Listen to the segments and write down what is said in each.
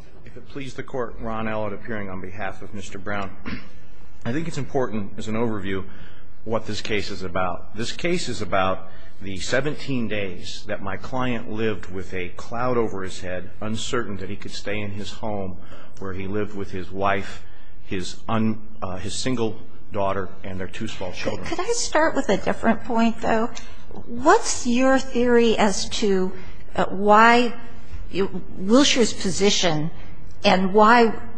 I think it's important as an overview what this case is about. This case is about the 17 days that my client lived with a cloud over his head, uncertain that he could stay in his home where he lived with his wife, his single daughter, and their two small children. Could I start with a different point, though? What's your theory as to why Wilshire's position and where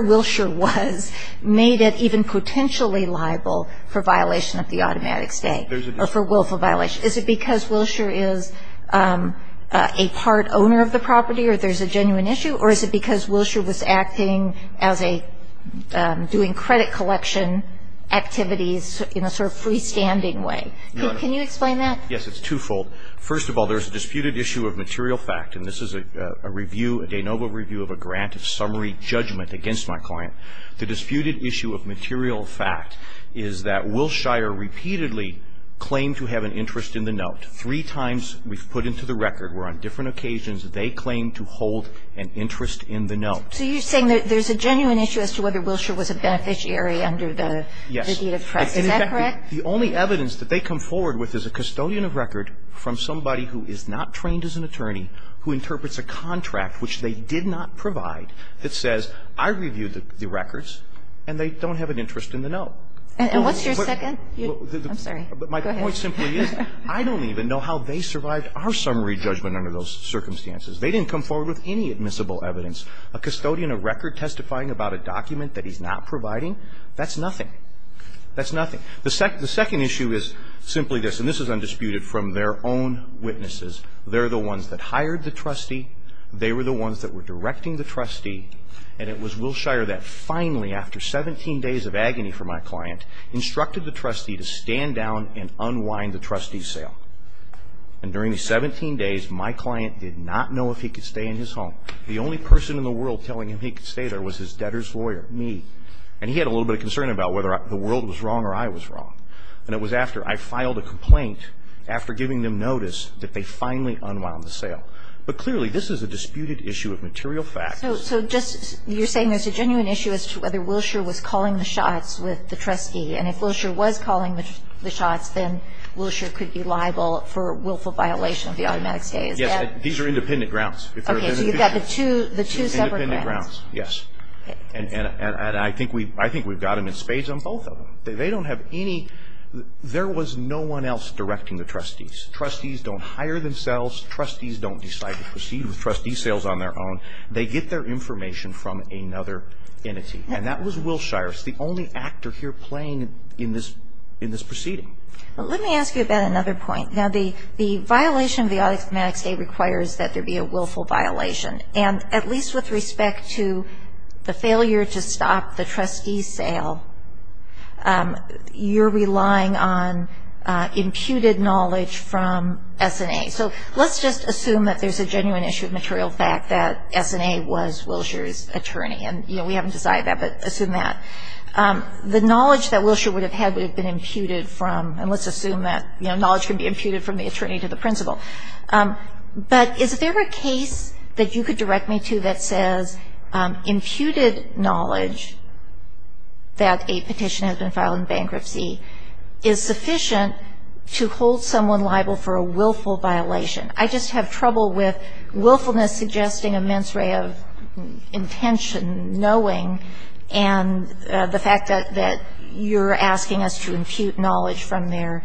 Wilshire was made it even potentially liable for violation of the automatic stay or for willful violation? Is it because Wilshire is a part owner of the property or there's a genuine issue, or is it because Wilshire was acting as a doing credit collection activities in a sort of freestanding way? Can you explain that? Yes, it's twofold. First of all, there's a disputed issue of material fact, and this is a review, a de novo review of a grant of summary judgment against my client. The disputed issue of material fact is that Wilshire repeatedly claimed to have an interest in the note. Three times we've put into the record were on different occasions they claimed to hold an interest in the note. So you're saying that there's a genuine issue as to whether Wilshire was a beneficiary under the deed of trust? Yes. Is that correct? In fact, the only evidence that they come forward with is a custodian of record from somebody who is not trained as an attorney, who interprets a contract which they did not provide, that says, I reviewed the records and they don't have an interest in the note. And what's your second? I'm sorry. Go ahead. My point simply is I don't even know how they survived our summary judgment under those circumstances. They didn't come forward with any admissible evidence. A custodian of record testifying about a document that he's not providing, that's nothing. That's nothing. The second issue is simply this, and this is undisputed from their own witnesses. They're the ones that hired the trustee. They were the ones that were directing the trustee. And it was Wilshire that finally, after 17 days of agony for my client, instructed the trustee to stand down and unwind the trustee sale. And during the 17 days, my client did not know if he could stay in his home. The only person in the world telling him he could stay there was his debtor's lawyer, me. And he had a little bit of concern about whether the world was wrong or I was wrong. And it was after I filed a complaint, after giving them notice, that they finally unwound the sale. But clearly, this is a disputed issue of material facts. So just you're saying there's a genuine issue as to whether Wilshire was calling the shots with the trustee. And if Wilshire was calling the shots, then Wilshire could be liable for willful violation of the automatic stays. Yes. These are independent grounds. Okay. So you've got the two separate grounds. Independent grounds, yes. And I think we've got them in spades on both of them. They don't have any – there was no one else directing the trustees. Trustees don't hire themselves. Trustees don't decide to proceed with trustee sales on their own. They get their information from another entity. And that was Wilshire. It's the only actor here playing in this proceeding. Let me ask you about another point. Now, the violation of the automatic stay requires that there be a willful violation. And at least with respect to the failure to stop the trustee sale, you're relying on imputed knowledge from S&A. So let's just assume that there's a genuine issue of material fact that S&A was Wilshire's attorney. And, you know, we haven't decided that, but assume that. The knowledge that Wilshire would have had would have been imputed from – and let's assume that, you know, knowledge can be imputed from the attorney to the principal. But is there a case that you could direct me to that says imputed knowledge that a petition has been filed in bankruptcy is sufficient to hold someone liable for a willful violation? I just have trouble with willfulness suggesting immense ray of intention, knowing, and the fact that you're asking us to impute knowledge from their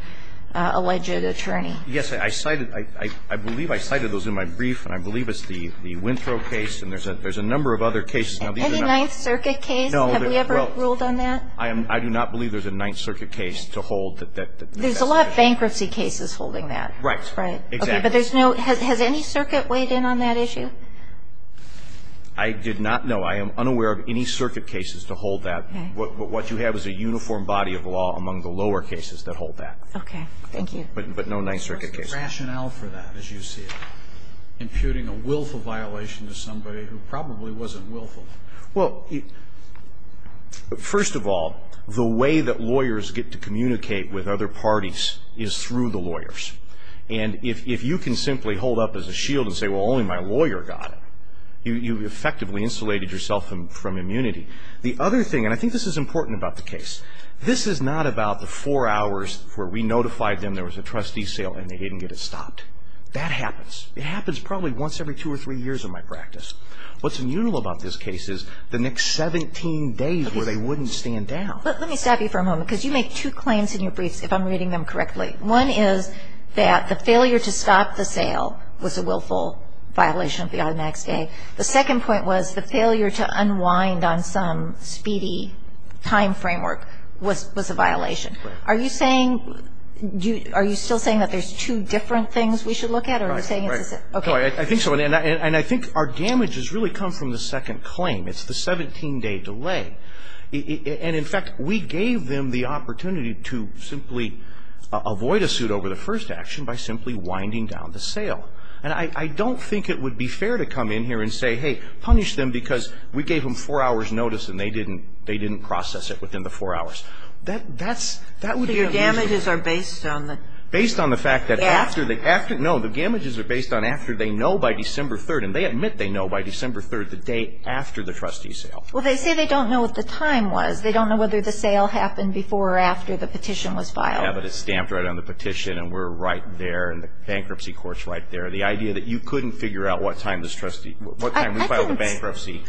alleged attorney. Yes, I cited – I believe I cited those in my brief. And I believe it's the Winthrow case. And there's a number of other cases. Any Ninth Circuit case? No. Have we ever ruled on that? I do not believe there's a Ninth Circuit case to hold that – There's a lot of bankruptcy cases holding that. Right. Right. Exactly. Okay. But there's no – has any circuit weighed in on that issue? I did not know. I am unaware of any circuit cases to hold that. But what you have is a uniform body of law among the lower cases that hold that. Okay. Thank you. But no Ninth Circuit case. What's the rationale for that, as you see it, imputing a willful violation to somebody who probably wasn't willful? Well, first of all, the way that lawyers get to communicate with other parties is through the lawyers. And if you can simply hold up as a shield and say, well, only my lawyer got it, you effectively insulated yourself from immunity. The other thing – and I think this is important about the case – this is not about the four hours where we notified them there was a trustee sale and they didn't get it stopped. That happens. It happens probably once every two or three years in my practice. What's unusual about this case is the next 17 days where they wouldn't stand down. Let me stop you for a moment because you make two claims in your briefs, if I'm reading them correctly. One is that the failure to stop the sale was a willful violation of the automatic stay. The second point was the failure to unwind on some speedy time framework was a violation. Are you saying – are you still saying that there's two different things we should look at? Or are you saying it's a – okay. I think so. And I think our damage has really come from the second claim. It's the 17-day delay. And, in fact, we gave them the opportunity to simply avoid a suit over the first action by simply winding down the sale. And I don't think it would be fair to come in here and say, hey, punish them because we gave them four hours' notice and they didn't process it within the four hours. That's – that would be unusual. So your damages are based on the – Based on the fact that after the – No, the damages are based on after they know by December 3rd. And they admit they know by December 3rd, the day after the trustee sale. Well, they say they don't know what the time was. They don't know whether the sale happened before or after the petition was filed. Yeah, but it's stamped right on the petition and we're right there and the bankruptcy court's right there. The idea that you couldn't figure out what time this trustee – what time we filed the bankruptcy,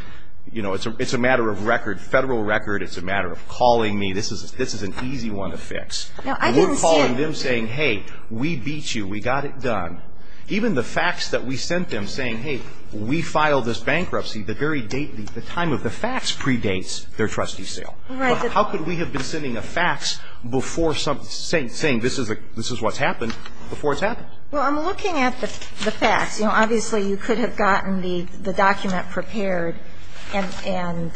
you know, it's a matter of record, federal record. It's a matter of calling me. This is an easy one to fix. No, I didn't see it. We're calling them saying, hey, we beat you. We got it done. Even the fax that we sent them saying, hey, we filed this bankruptcy, the very date – the time of the fax predates their trustee sale. Right. How could we have been sending a fax before some – saying this is what's happened before it's happened? Well, I'm looking at the fax. You know, obviously you could have gotten the document prepared and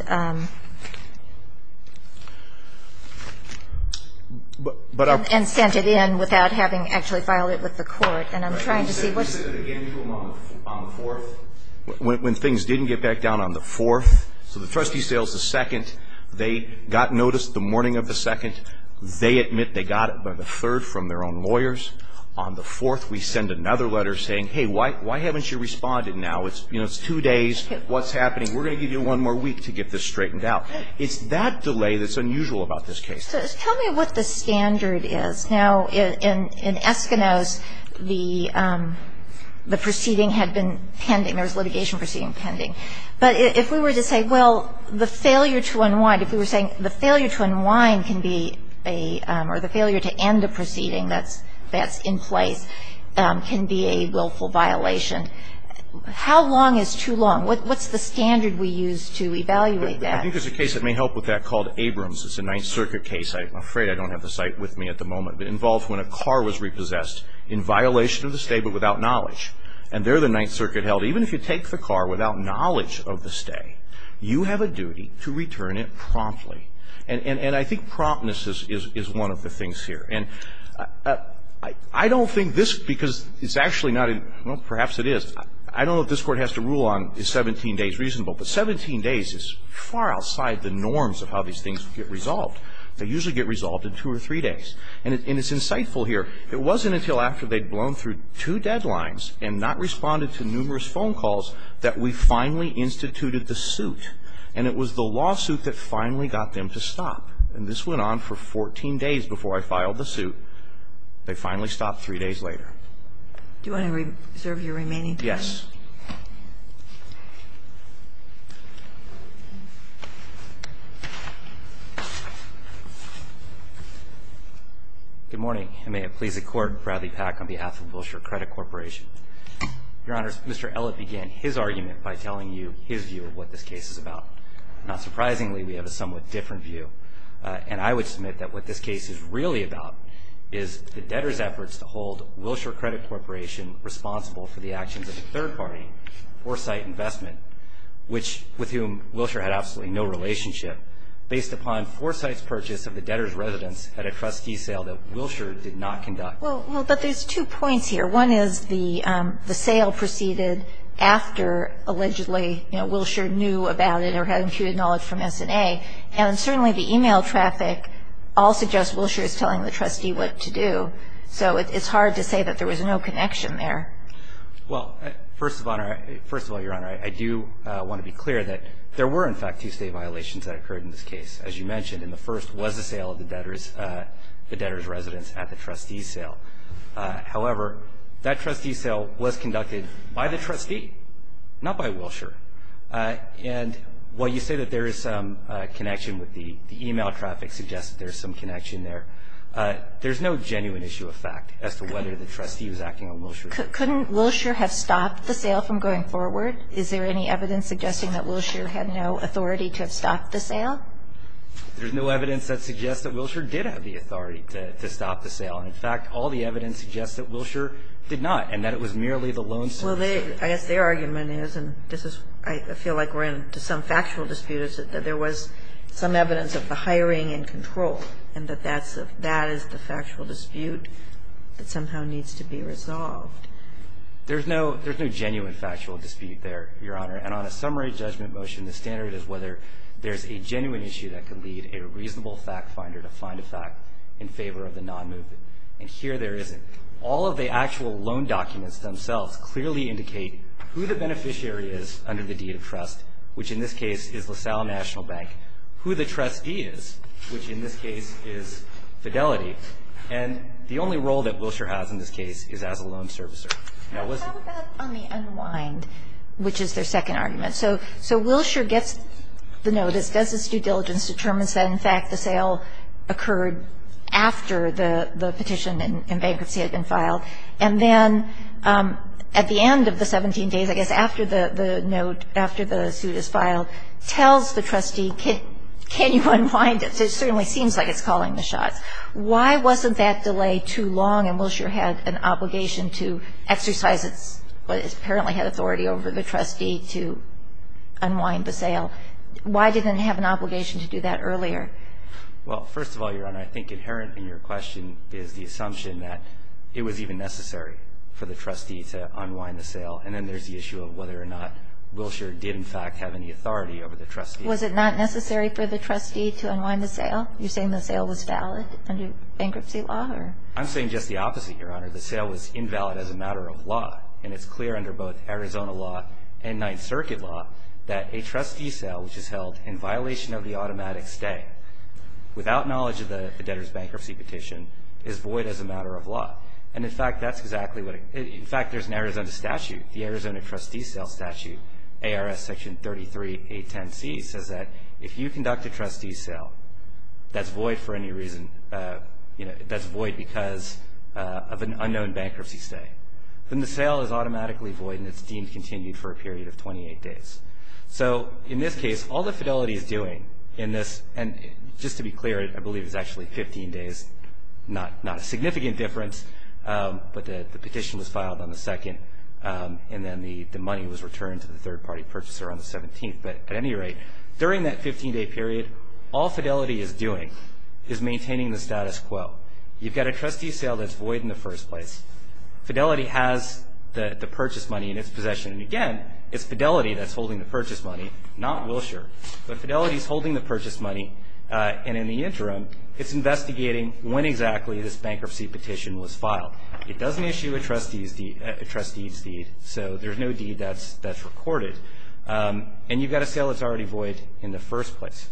sent it in without having actually filed it with the court, and I'm trying to see what's – Did you send it again to them on the 4th? When things didn't get back down on the 4th, so the trustee sale's the 2nd, they got notice the morning of the 2nd. They admit they got it by the 3rd from their own lawyers. On the 4th, we send another letter saying, hey, why haven't you responded now? You know, it's two days. What's happening? We're going to give you one more week to get this straightened out. It's that delay that's unusual about this case. Tell me what the standard is. Now, in Eskimos, the proceeding had been pending. There was litigation proceeding pending. But if we were to say, well, the failure to unwind, if we were saying the failure to unwind can be a – or the failure to end a proceeding that's in place can be a willful violation, how long is too long? What's the standard we use to evaluate that? I think there's a case that may help with that called Abrams. It's a Ninth Circuit case. I'm afraid I don't have the site with me at the moment, but it involves when a car was repossessed in violation of the state but without knowledge, and there the Ninth Circuit held. Even if you take the car without knowledge of the stay, you have a duty to return it promptly. And I think promptness is one of the things here. And I don't think this, because it's actually not a – well, perhaps it is. I don't know if this Court has to rule on is 17 days reasonable, but 17 days is far outside the norms of how these things get resolved. They usually get resolved in two or three days. And it's insightful here. It wasn't until after they'd blown through two deadlines and not responded to numerous phone calls that we finally instituted the suit. And it was the lawsuit that finally got them to stop. And this went on for 14 days before I filed the suit. They finally stopped three days later. Do you want to reserve your remaining time? Good morning, and may it please the Court, Bradley Pack, on behalf of Wilshire Credit Corporation. Your Honors, Mr. Ellett began his argument by telling you his view of what this case is about. Not surprisingly, we have a somewhat different view. And I would submit that what this case is really about is the debtor's efforts to hold Wilshire Credit Corporation responsible for the actions of the third party Foresight Investment, with whom Wilshire had absolutely no relationship, based upon Foresight's purchase of the debtor's residence at a trustee sale that Wilshire did not conduct. Well, but there's two points here. One is the sale proceeded after, allegedly, Wilshire knew about it or had imputed knowledge from S&A. And certainly the e-mail traffic all suggests Wilshire is telling the trustee what to do. So it's hard to say that there was no connection there. Well, first of all, Your Honor, I do want to be clear that there were, in fact, two state violations that occurred in this case, as you mentioned. And the first was the sale of the debtor's residence at the trustee's sale. However, that trustee's sale was conducted by the trustee, not by Wilshire. And while you say that there is some connection with the e-mail traffic, suggests that there's some connection there, there's no genuine issue of fact as to whether the trustee was acting on Wilshire's for example, how did this go? Didn't Wilshire have stopped the sale from going forward? Is there any evidence suggesting that Wilshire had no authority to have stopped the sale? There's no evidence that suggests that Wilshire did have the authority to stop the sale. And in fact, all the evidence suggests that Wilshire did not, and that it was merely the lonesome trustee. Well, I guess their argument is, and this is what I feel like we're into some factual dispute, is that there was some evidence of the hiring and control, and that that is the factual dispute that somehow needs to be resolved. There's no genuine factual dispute there, Your Honor. And on a summary judgment motion, the standard is whether there's a genuine issue that can lead a reasonable fact finder to find a fact in favor of the nonmovement. And here there isn't. All of the actual loan documents themselves clearly indicate who the beneficiary is under the deed of trust, which in this case is LaSalle National Bank, who the trustee is, which in this case is Fidelity. And the only role that Wilshire has in this case is as a loan servicer. Now, listen. How about on the unwind, which is their second argument? So Wilshire gets the notice, does its due diligence, determines that, in fact, the sale occurred after the petition in bankruptcy had been filed. And then at the end of the 17 days, I guess after the note, after the suit is filed, tells the trustee, can you unwind it? It certainly seems like it's calling the shots. Why wasn't that delay too long? And Wilshire had an obligation to exercise its, what apparently had authority over the trustee to unwind the sale. Why didn't it have an obligation to do that earlier? Well, first of all, Your Honor, I think inherent in your question is the assumption that it was even necessary for the trustee to unwind the sale. And then there's the issue of whether or not Wilshire did, in fact, have any authority over the trustee. Was it not necessary for the trustee to unwind the sale? You're saying the sale was valid under bankruptcy law? I'm saying just the opposite, Your Honor. The sale was invalid as a matter of law. And it's clear under both Arizona law and Ninth Circuit law that a trustee sale, which is held in violation of the automatic stay, without knowledge of the debtor's bankruptcy petition, is void as a matter of law. And, in fact, that's exactly what it is. In fact, there's an Arizona statute, the Arizona trustee sale statute, ARS Section 33-810C, says that if you conduct a trustee sale that's void for any reason, that's void because of an unknown bankruptcy stay, then the sale is automatically void and it's deemed continued for a period of 28 days. So, in this case, all that Fidelity is doing in this, and just to be clear, I believe it's actually 15 days, not a significant difference, but the petition was filed on the 2nd and then the money was returned to the third-party purchaser on the 17th. But, at any rate, during that 15-day period, all Fidelity is doing is maintaining the status quo. You've got a trustee sale that's void in the first place. Fidelity has the purchase money in its possession. And, again, it's Fidelity that's holding the purchase money, not Wilshire. But Fidelity is holding the purchase money, and, in the interim, it's investigating when exactly this bankruptcy petition was filed. It doesn't issue a trustee's deed, so there's no deed that's recorded. And you've got a sale that's already void in the first place.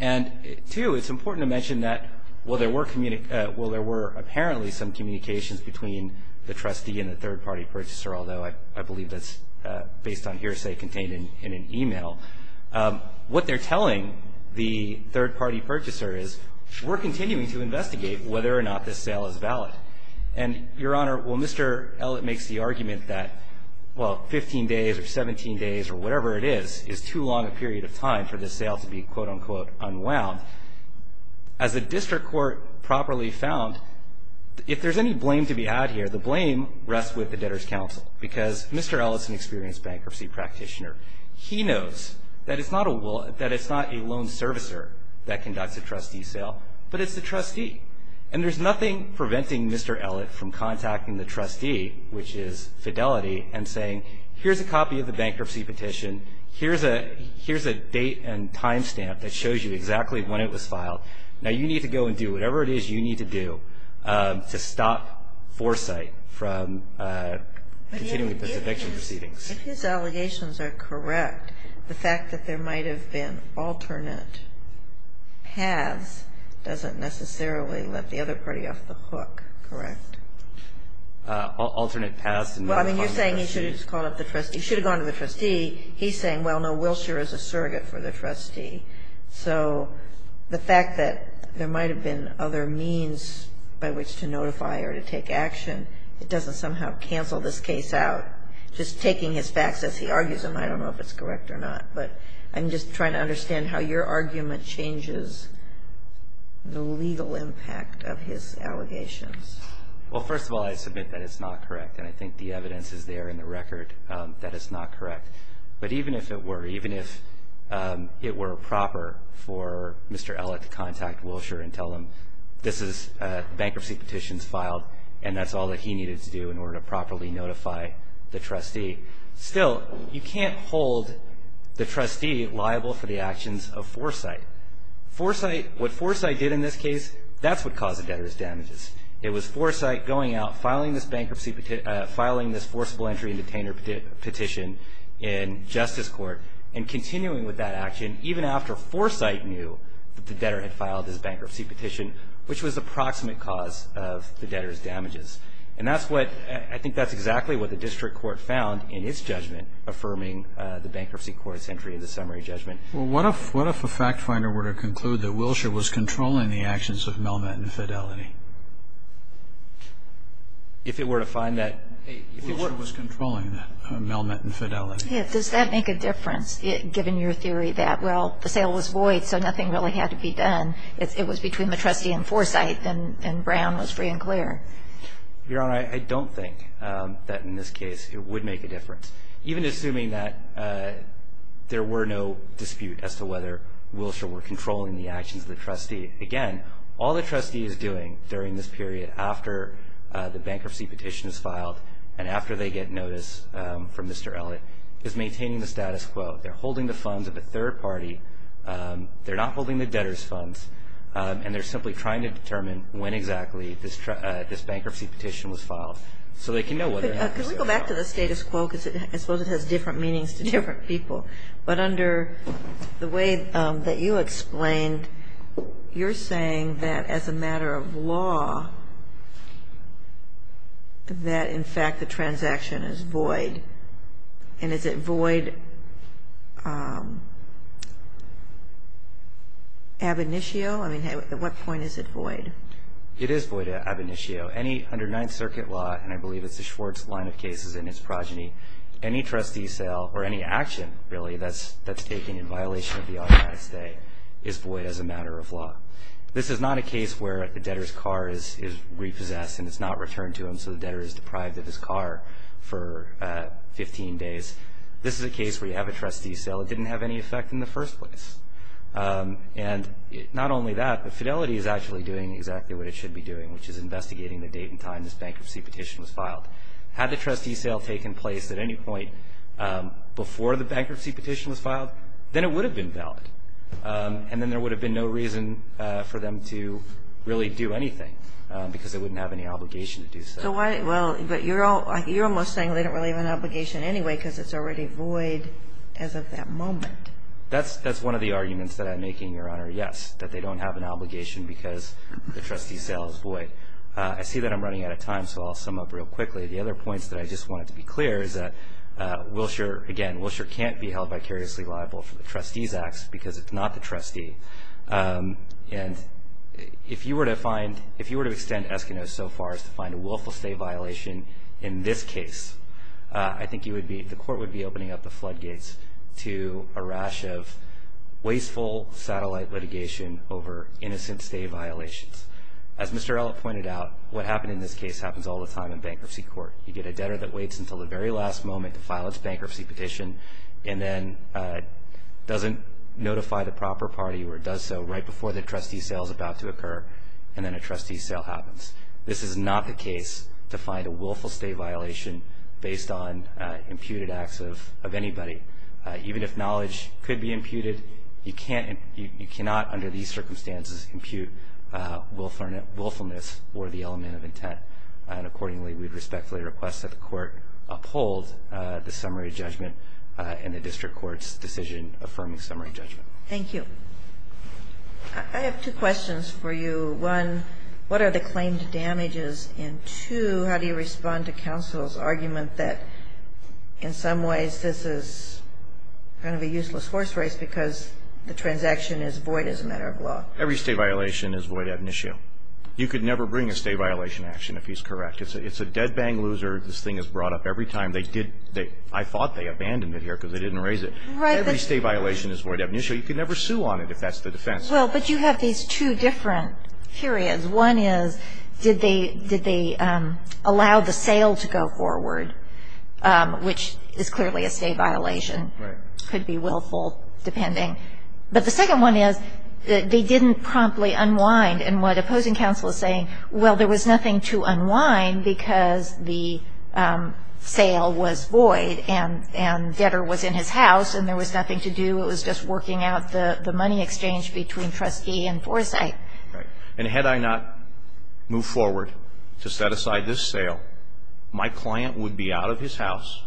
And, too, it's important to mention that, well, there were apparently some communications between the trustee and the third-party purchaser, although I believe that's based on hearsay contained in an e-mail. What they're telling the third-party purchaser is, we're continuing to investigate whether or not this sale is valid. And, Your Honor, well, Mr. Ellett makes the argument that, well, 15 days or 17 days or whatever it is is too long a period of time for this sale to be, quote, unquote, unwound. As the district court properly found, if there's any blame to be had here, the blame rests with the Debtors' Council, because Mr. Ellett's an experienced bankruptcy practitioner. He knows that it's not a loan servicer that conducts a trustee sale, but it's the trustee. And there's nothing preventing Mr. Ellett from contacting the trustee, which is Fidelity, and saying, here's a copy of the bankruptcy petition, here's a date and time stamp that shows you exactly when it was filed. Now, you need to go and do whatever it is you need to do to stop foresight from continuing with this eviction proceedings. If his allegations are correct, the fact that there might have been alternate paths doesn't necessarily let the other party off the hook, correct? Alternate paths? Well, I mean, you're saying he should have called up the trustee. He should have gone to the trustee. He's saying, well, no, Wilshire is a surrogate for the trustee. So the fact that there might have been other means by which to notify or to take action, it doesn't somehow cancel this case out. Just taking his facts as he argues them, I don't know if it's correct or not. But I'm just trying to understand how your argument changes the legal impact of his allegations. Well, first of all, I submit that it's not correct. And I think the evidence is there in the record that it's not correct. But even if it were, even if it were proper for Mr. Ellett to contact Wilshire and tell him this is bankruptcy petitions filed and that's all that he needed to do in order to properly notify the trustee, still you can't hold the trustee liable for the actions of foresight. What foresight did in this case, that's what caused the debtor's damages. It was foresight going out, filing this bankruptcy petition, filing this forcible entry and detainer petition in justice court and continuing with that action, even after foresight knew that the debtor had filed his bankruptcy petition, which was the proximate cause of the debtor's damages. And that's what, I think that's exactly what the district court found in its judgment, affirming the bankruptcy court's entry in the summary judgment. Well, what if a fact finder were to conclude that Wilshire was controlling the actions of Melmont and Fidelity? If it were to find that Wilshire was controlling Melmont and Fidelity. Yeah, does that make a difference, given your theory that, well, the sale was void, so nothing really had to be done. It was between the trustee and foresight and Brown was free and clear. Your Honor, I don't think that in this case it would make a difference. Even assuming that there were no dispute as to whether Wilshire were controlling the actions of the trustee. Again, all the trustee is doing during this period after the bankruptcy petition is filed and after they get notice from Mr. Elliott is maintaining the status quo. They're holding the funds of a third party. They're not holding the debtor's funds, and they're simply trying to determine when exactly this bankruptcy petition was filed, so they can know whether or not there was a sale. Could we go back to the status quo, because I suppose it has different meanings to different people. But under the way that you explained, you're saying that as a matter of law that, in fact, the transaction is void. And is it void ab initio? I mean, at what point is it void? It is void ab initio. Any under Ninth Circuit law, and I believe it's the Schwartz line of cases in its progeny, any trustee sale or any action really that's taken in violation of the automatic stay is void as a matter of law. This is not a case where the debtor's car is repossessed and it's not returned to him, so the debtor is deprived of his car for 15 days. This is a case where you have a trustee sale. It didn't have any effect in the first place. And not only that, but Fidelity is actually doing exactly what it should be doing, which is investigating the date and time this bankruptcy petition was filed. Had the trustee sale taken place at any point before the bankruptcy petition was filed, then it would have been valid. And then there would have been no reason for them to really do anything, because they wouldn't have any obligation to do so. But you're almost saying they don't really have an obligation anyway because it's already void as of that moment. That's one of the arguments that I'm making, Your Honor, yes, that they don't have an obligation because the trustee sale is void. I see that I'm running out of time, so I'll sum up real quickly. The other points that I just wanted to be clear is that, again, Wilshire can't be held vicariously liable for the trustee's acts because it's not the trustee. And if you were to extend Eskimos so far as to find a willful stay violation in this case, I think the court would be opening up the floodgates to a rash of wasteful satellite litigation over innocent stay violations. As Mr. Ellett pointed out, what happened in this case happens all the time in bankruptcy court. You get a debtor that waits until the very last moment to file its bankruptcy petition and then doesn't notify the proper party or does so right before the trustee sale is about to occur, and then a trustee sale happens. This is not the case to find a willful stay violation based on imputed acts of anybody. Even if knowledge could be imputed, you cannot, under these circumstances, impute willfulness or the element of intent. And accordingly, we would respectfully request that the court uphold the summary judgment and the district court's decision affirming summary judgment. Thank you. I have two questions for you. One, what are the claimed damages? And two, how do you respond to counsel's argument that in some ways this is kind of a useless horse race because the transaction is void as a matter of law? Every stay violation is void ab initio. You could never bring a stay violation action if he's correct. It's a dead bang loser. This thing is brought up every time. I thought they abandoned it here because they didn't raise it. Every stay violation is void ab initio. You could never sue on it if that's the defense. Well, but you have these two different periods. One is did they allow the sale to go forward, which is clearly a stay violation. Right. Could be willful, depending. But the second one is they didn't promptly unwind. And what opposing counsel is saying, well, there was nothing to unwind because the sale was void and debtor was in his house and there was nothing to do. It was just working out the money exchange between trustee and foresight. Right. And had I not moved forward to set aside this sale, my client would be out of his house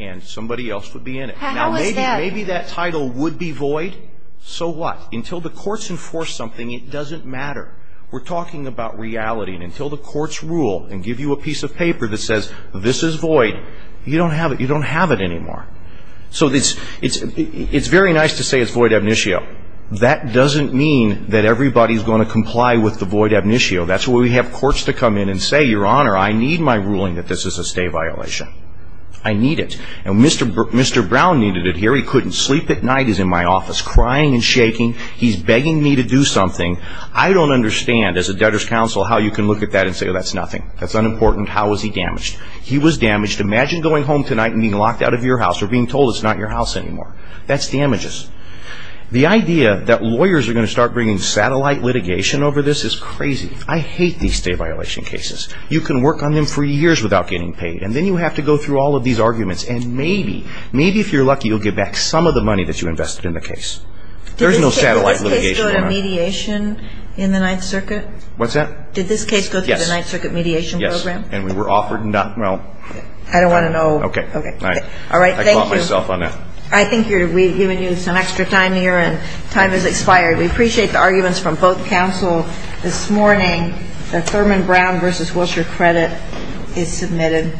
and somebody else would be in it. How is that? Now, maybe that title would be void. So what? Until the courts enforce something, it doesn't matter. We're talking about reality. And until the courts rule and give you a piece of paper that says this is void, you don't have it. You don't have it anymore. So it's very nice to say it's void ab initio. That doesn't mean that everybody is going to comply with the void ab initio. That's why we have courts to come in and say, Your Honor, I need my ruling that this is a stay violation. I need it. And Mr. Brown needed it here. He couldn't sleep at night. He's in my office crying and shaking. He's begging me to do something. I don't understand, as a debtor's counsel, how you can look at that and say, oh, that's nothing. That's unimportant. How was he damaged? He was damaged. Imagine going home tonight and being locked out of your house or being told it's not your house anymore. That's damages. The idea that lawyers are going to start bringing satellite litigation over this is crazy. I hate these stay violation cases. You can work on them for years without getting paid. And then you have to go through all of these arguments. And maybe, maybe if you're lucky, you'll get back some of the money that you invested in the case. There's no satellite litigation, Your Honor. Did this case go to mediation in the Ninth Circuit? What's that? Did this case go through the Ninth Circuit mediation program? Yes. And we were offered not, well. I don't want to know. Okay. All right. Thank you. I caught myself on that. I think we've given you some extra time here, and time has expired. We appreciate the arguments from both counsel this morning. The Thurman Brown v. Wilshire credit is submitted.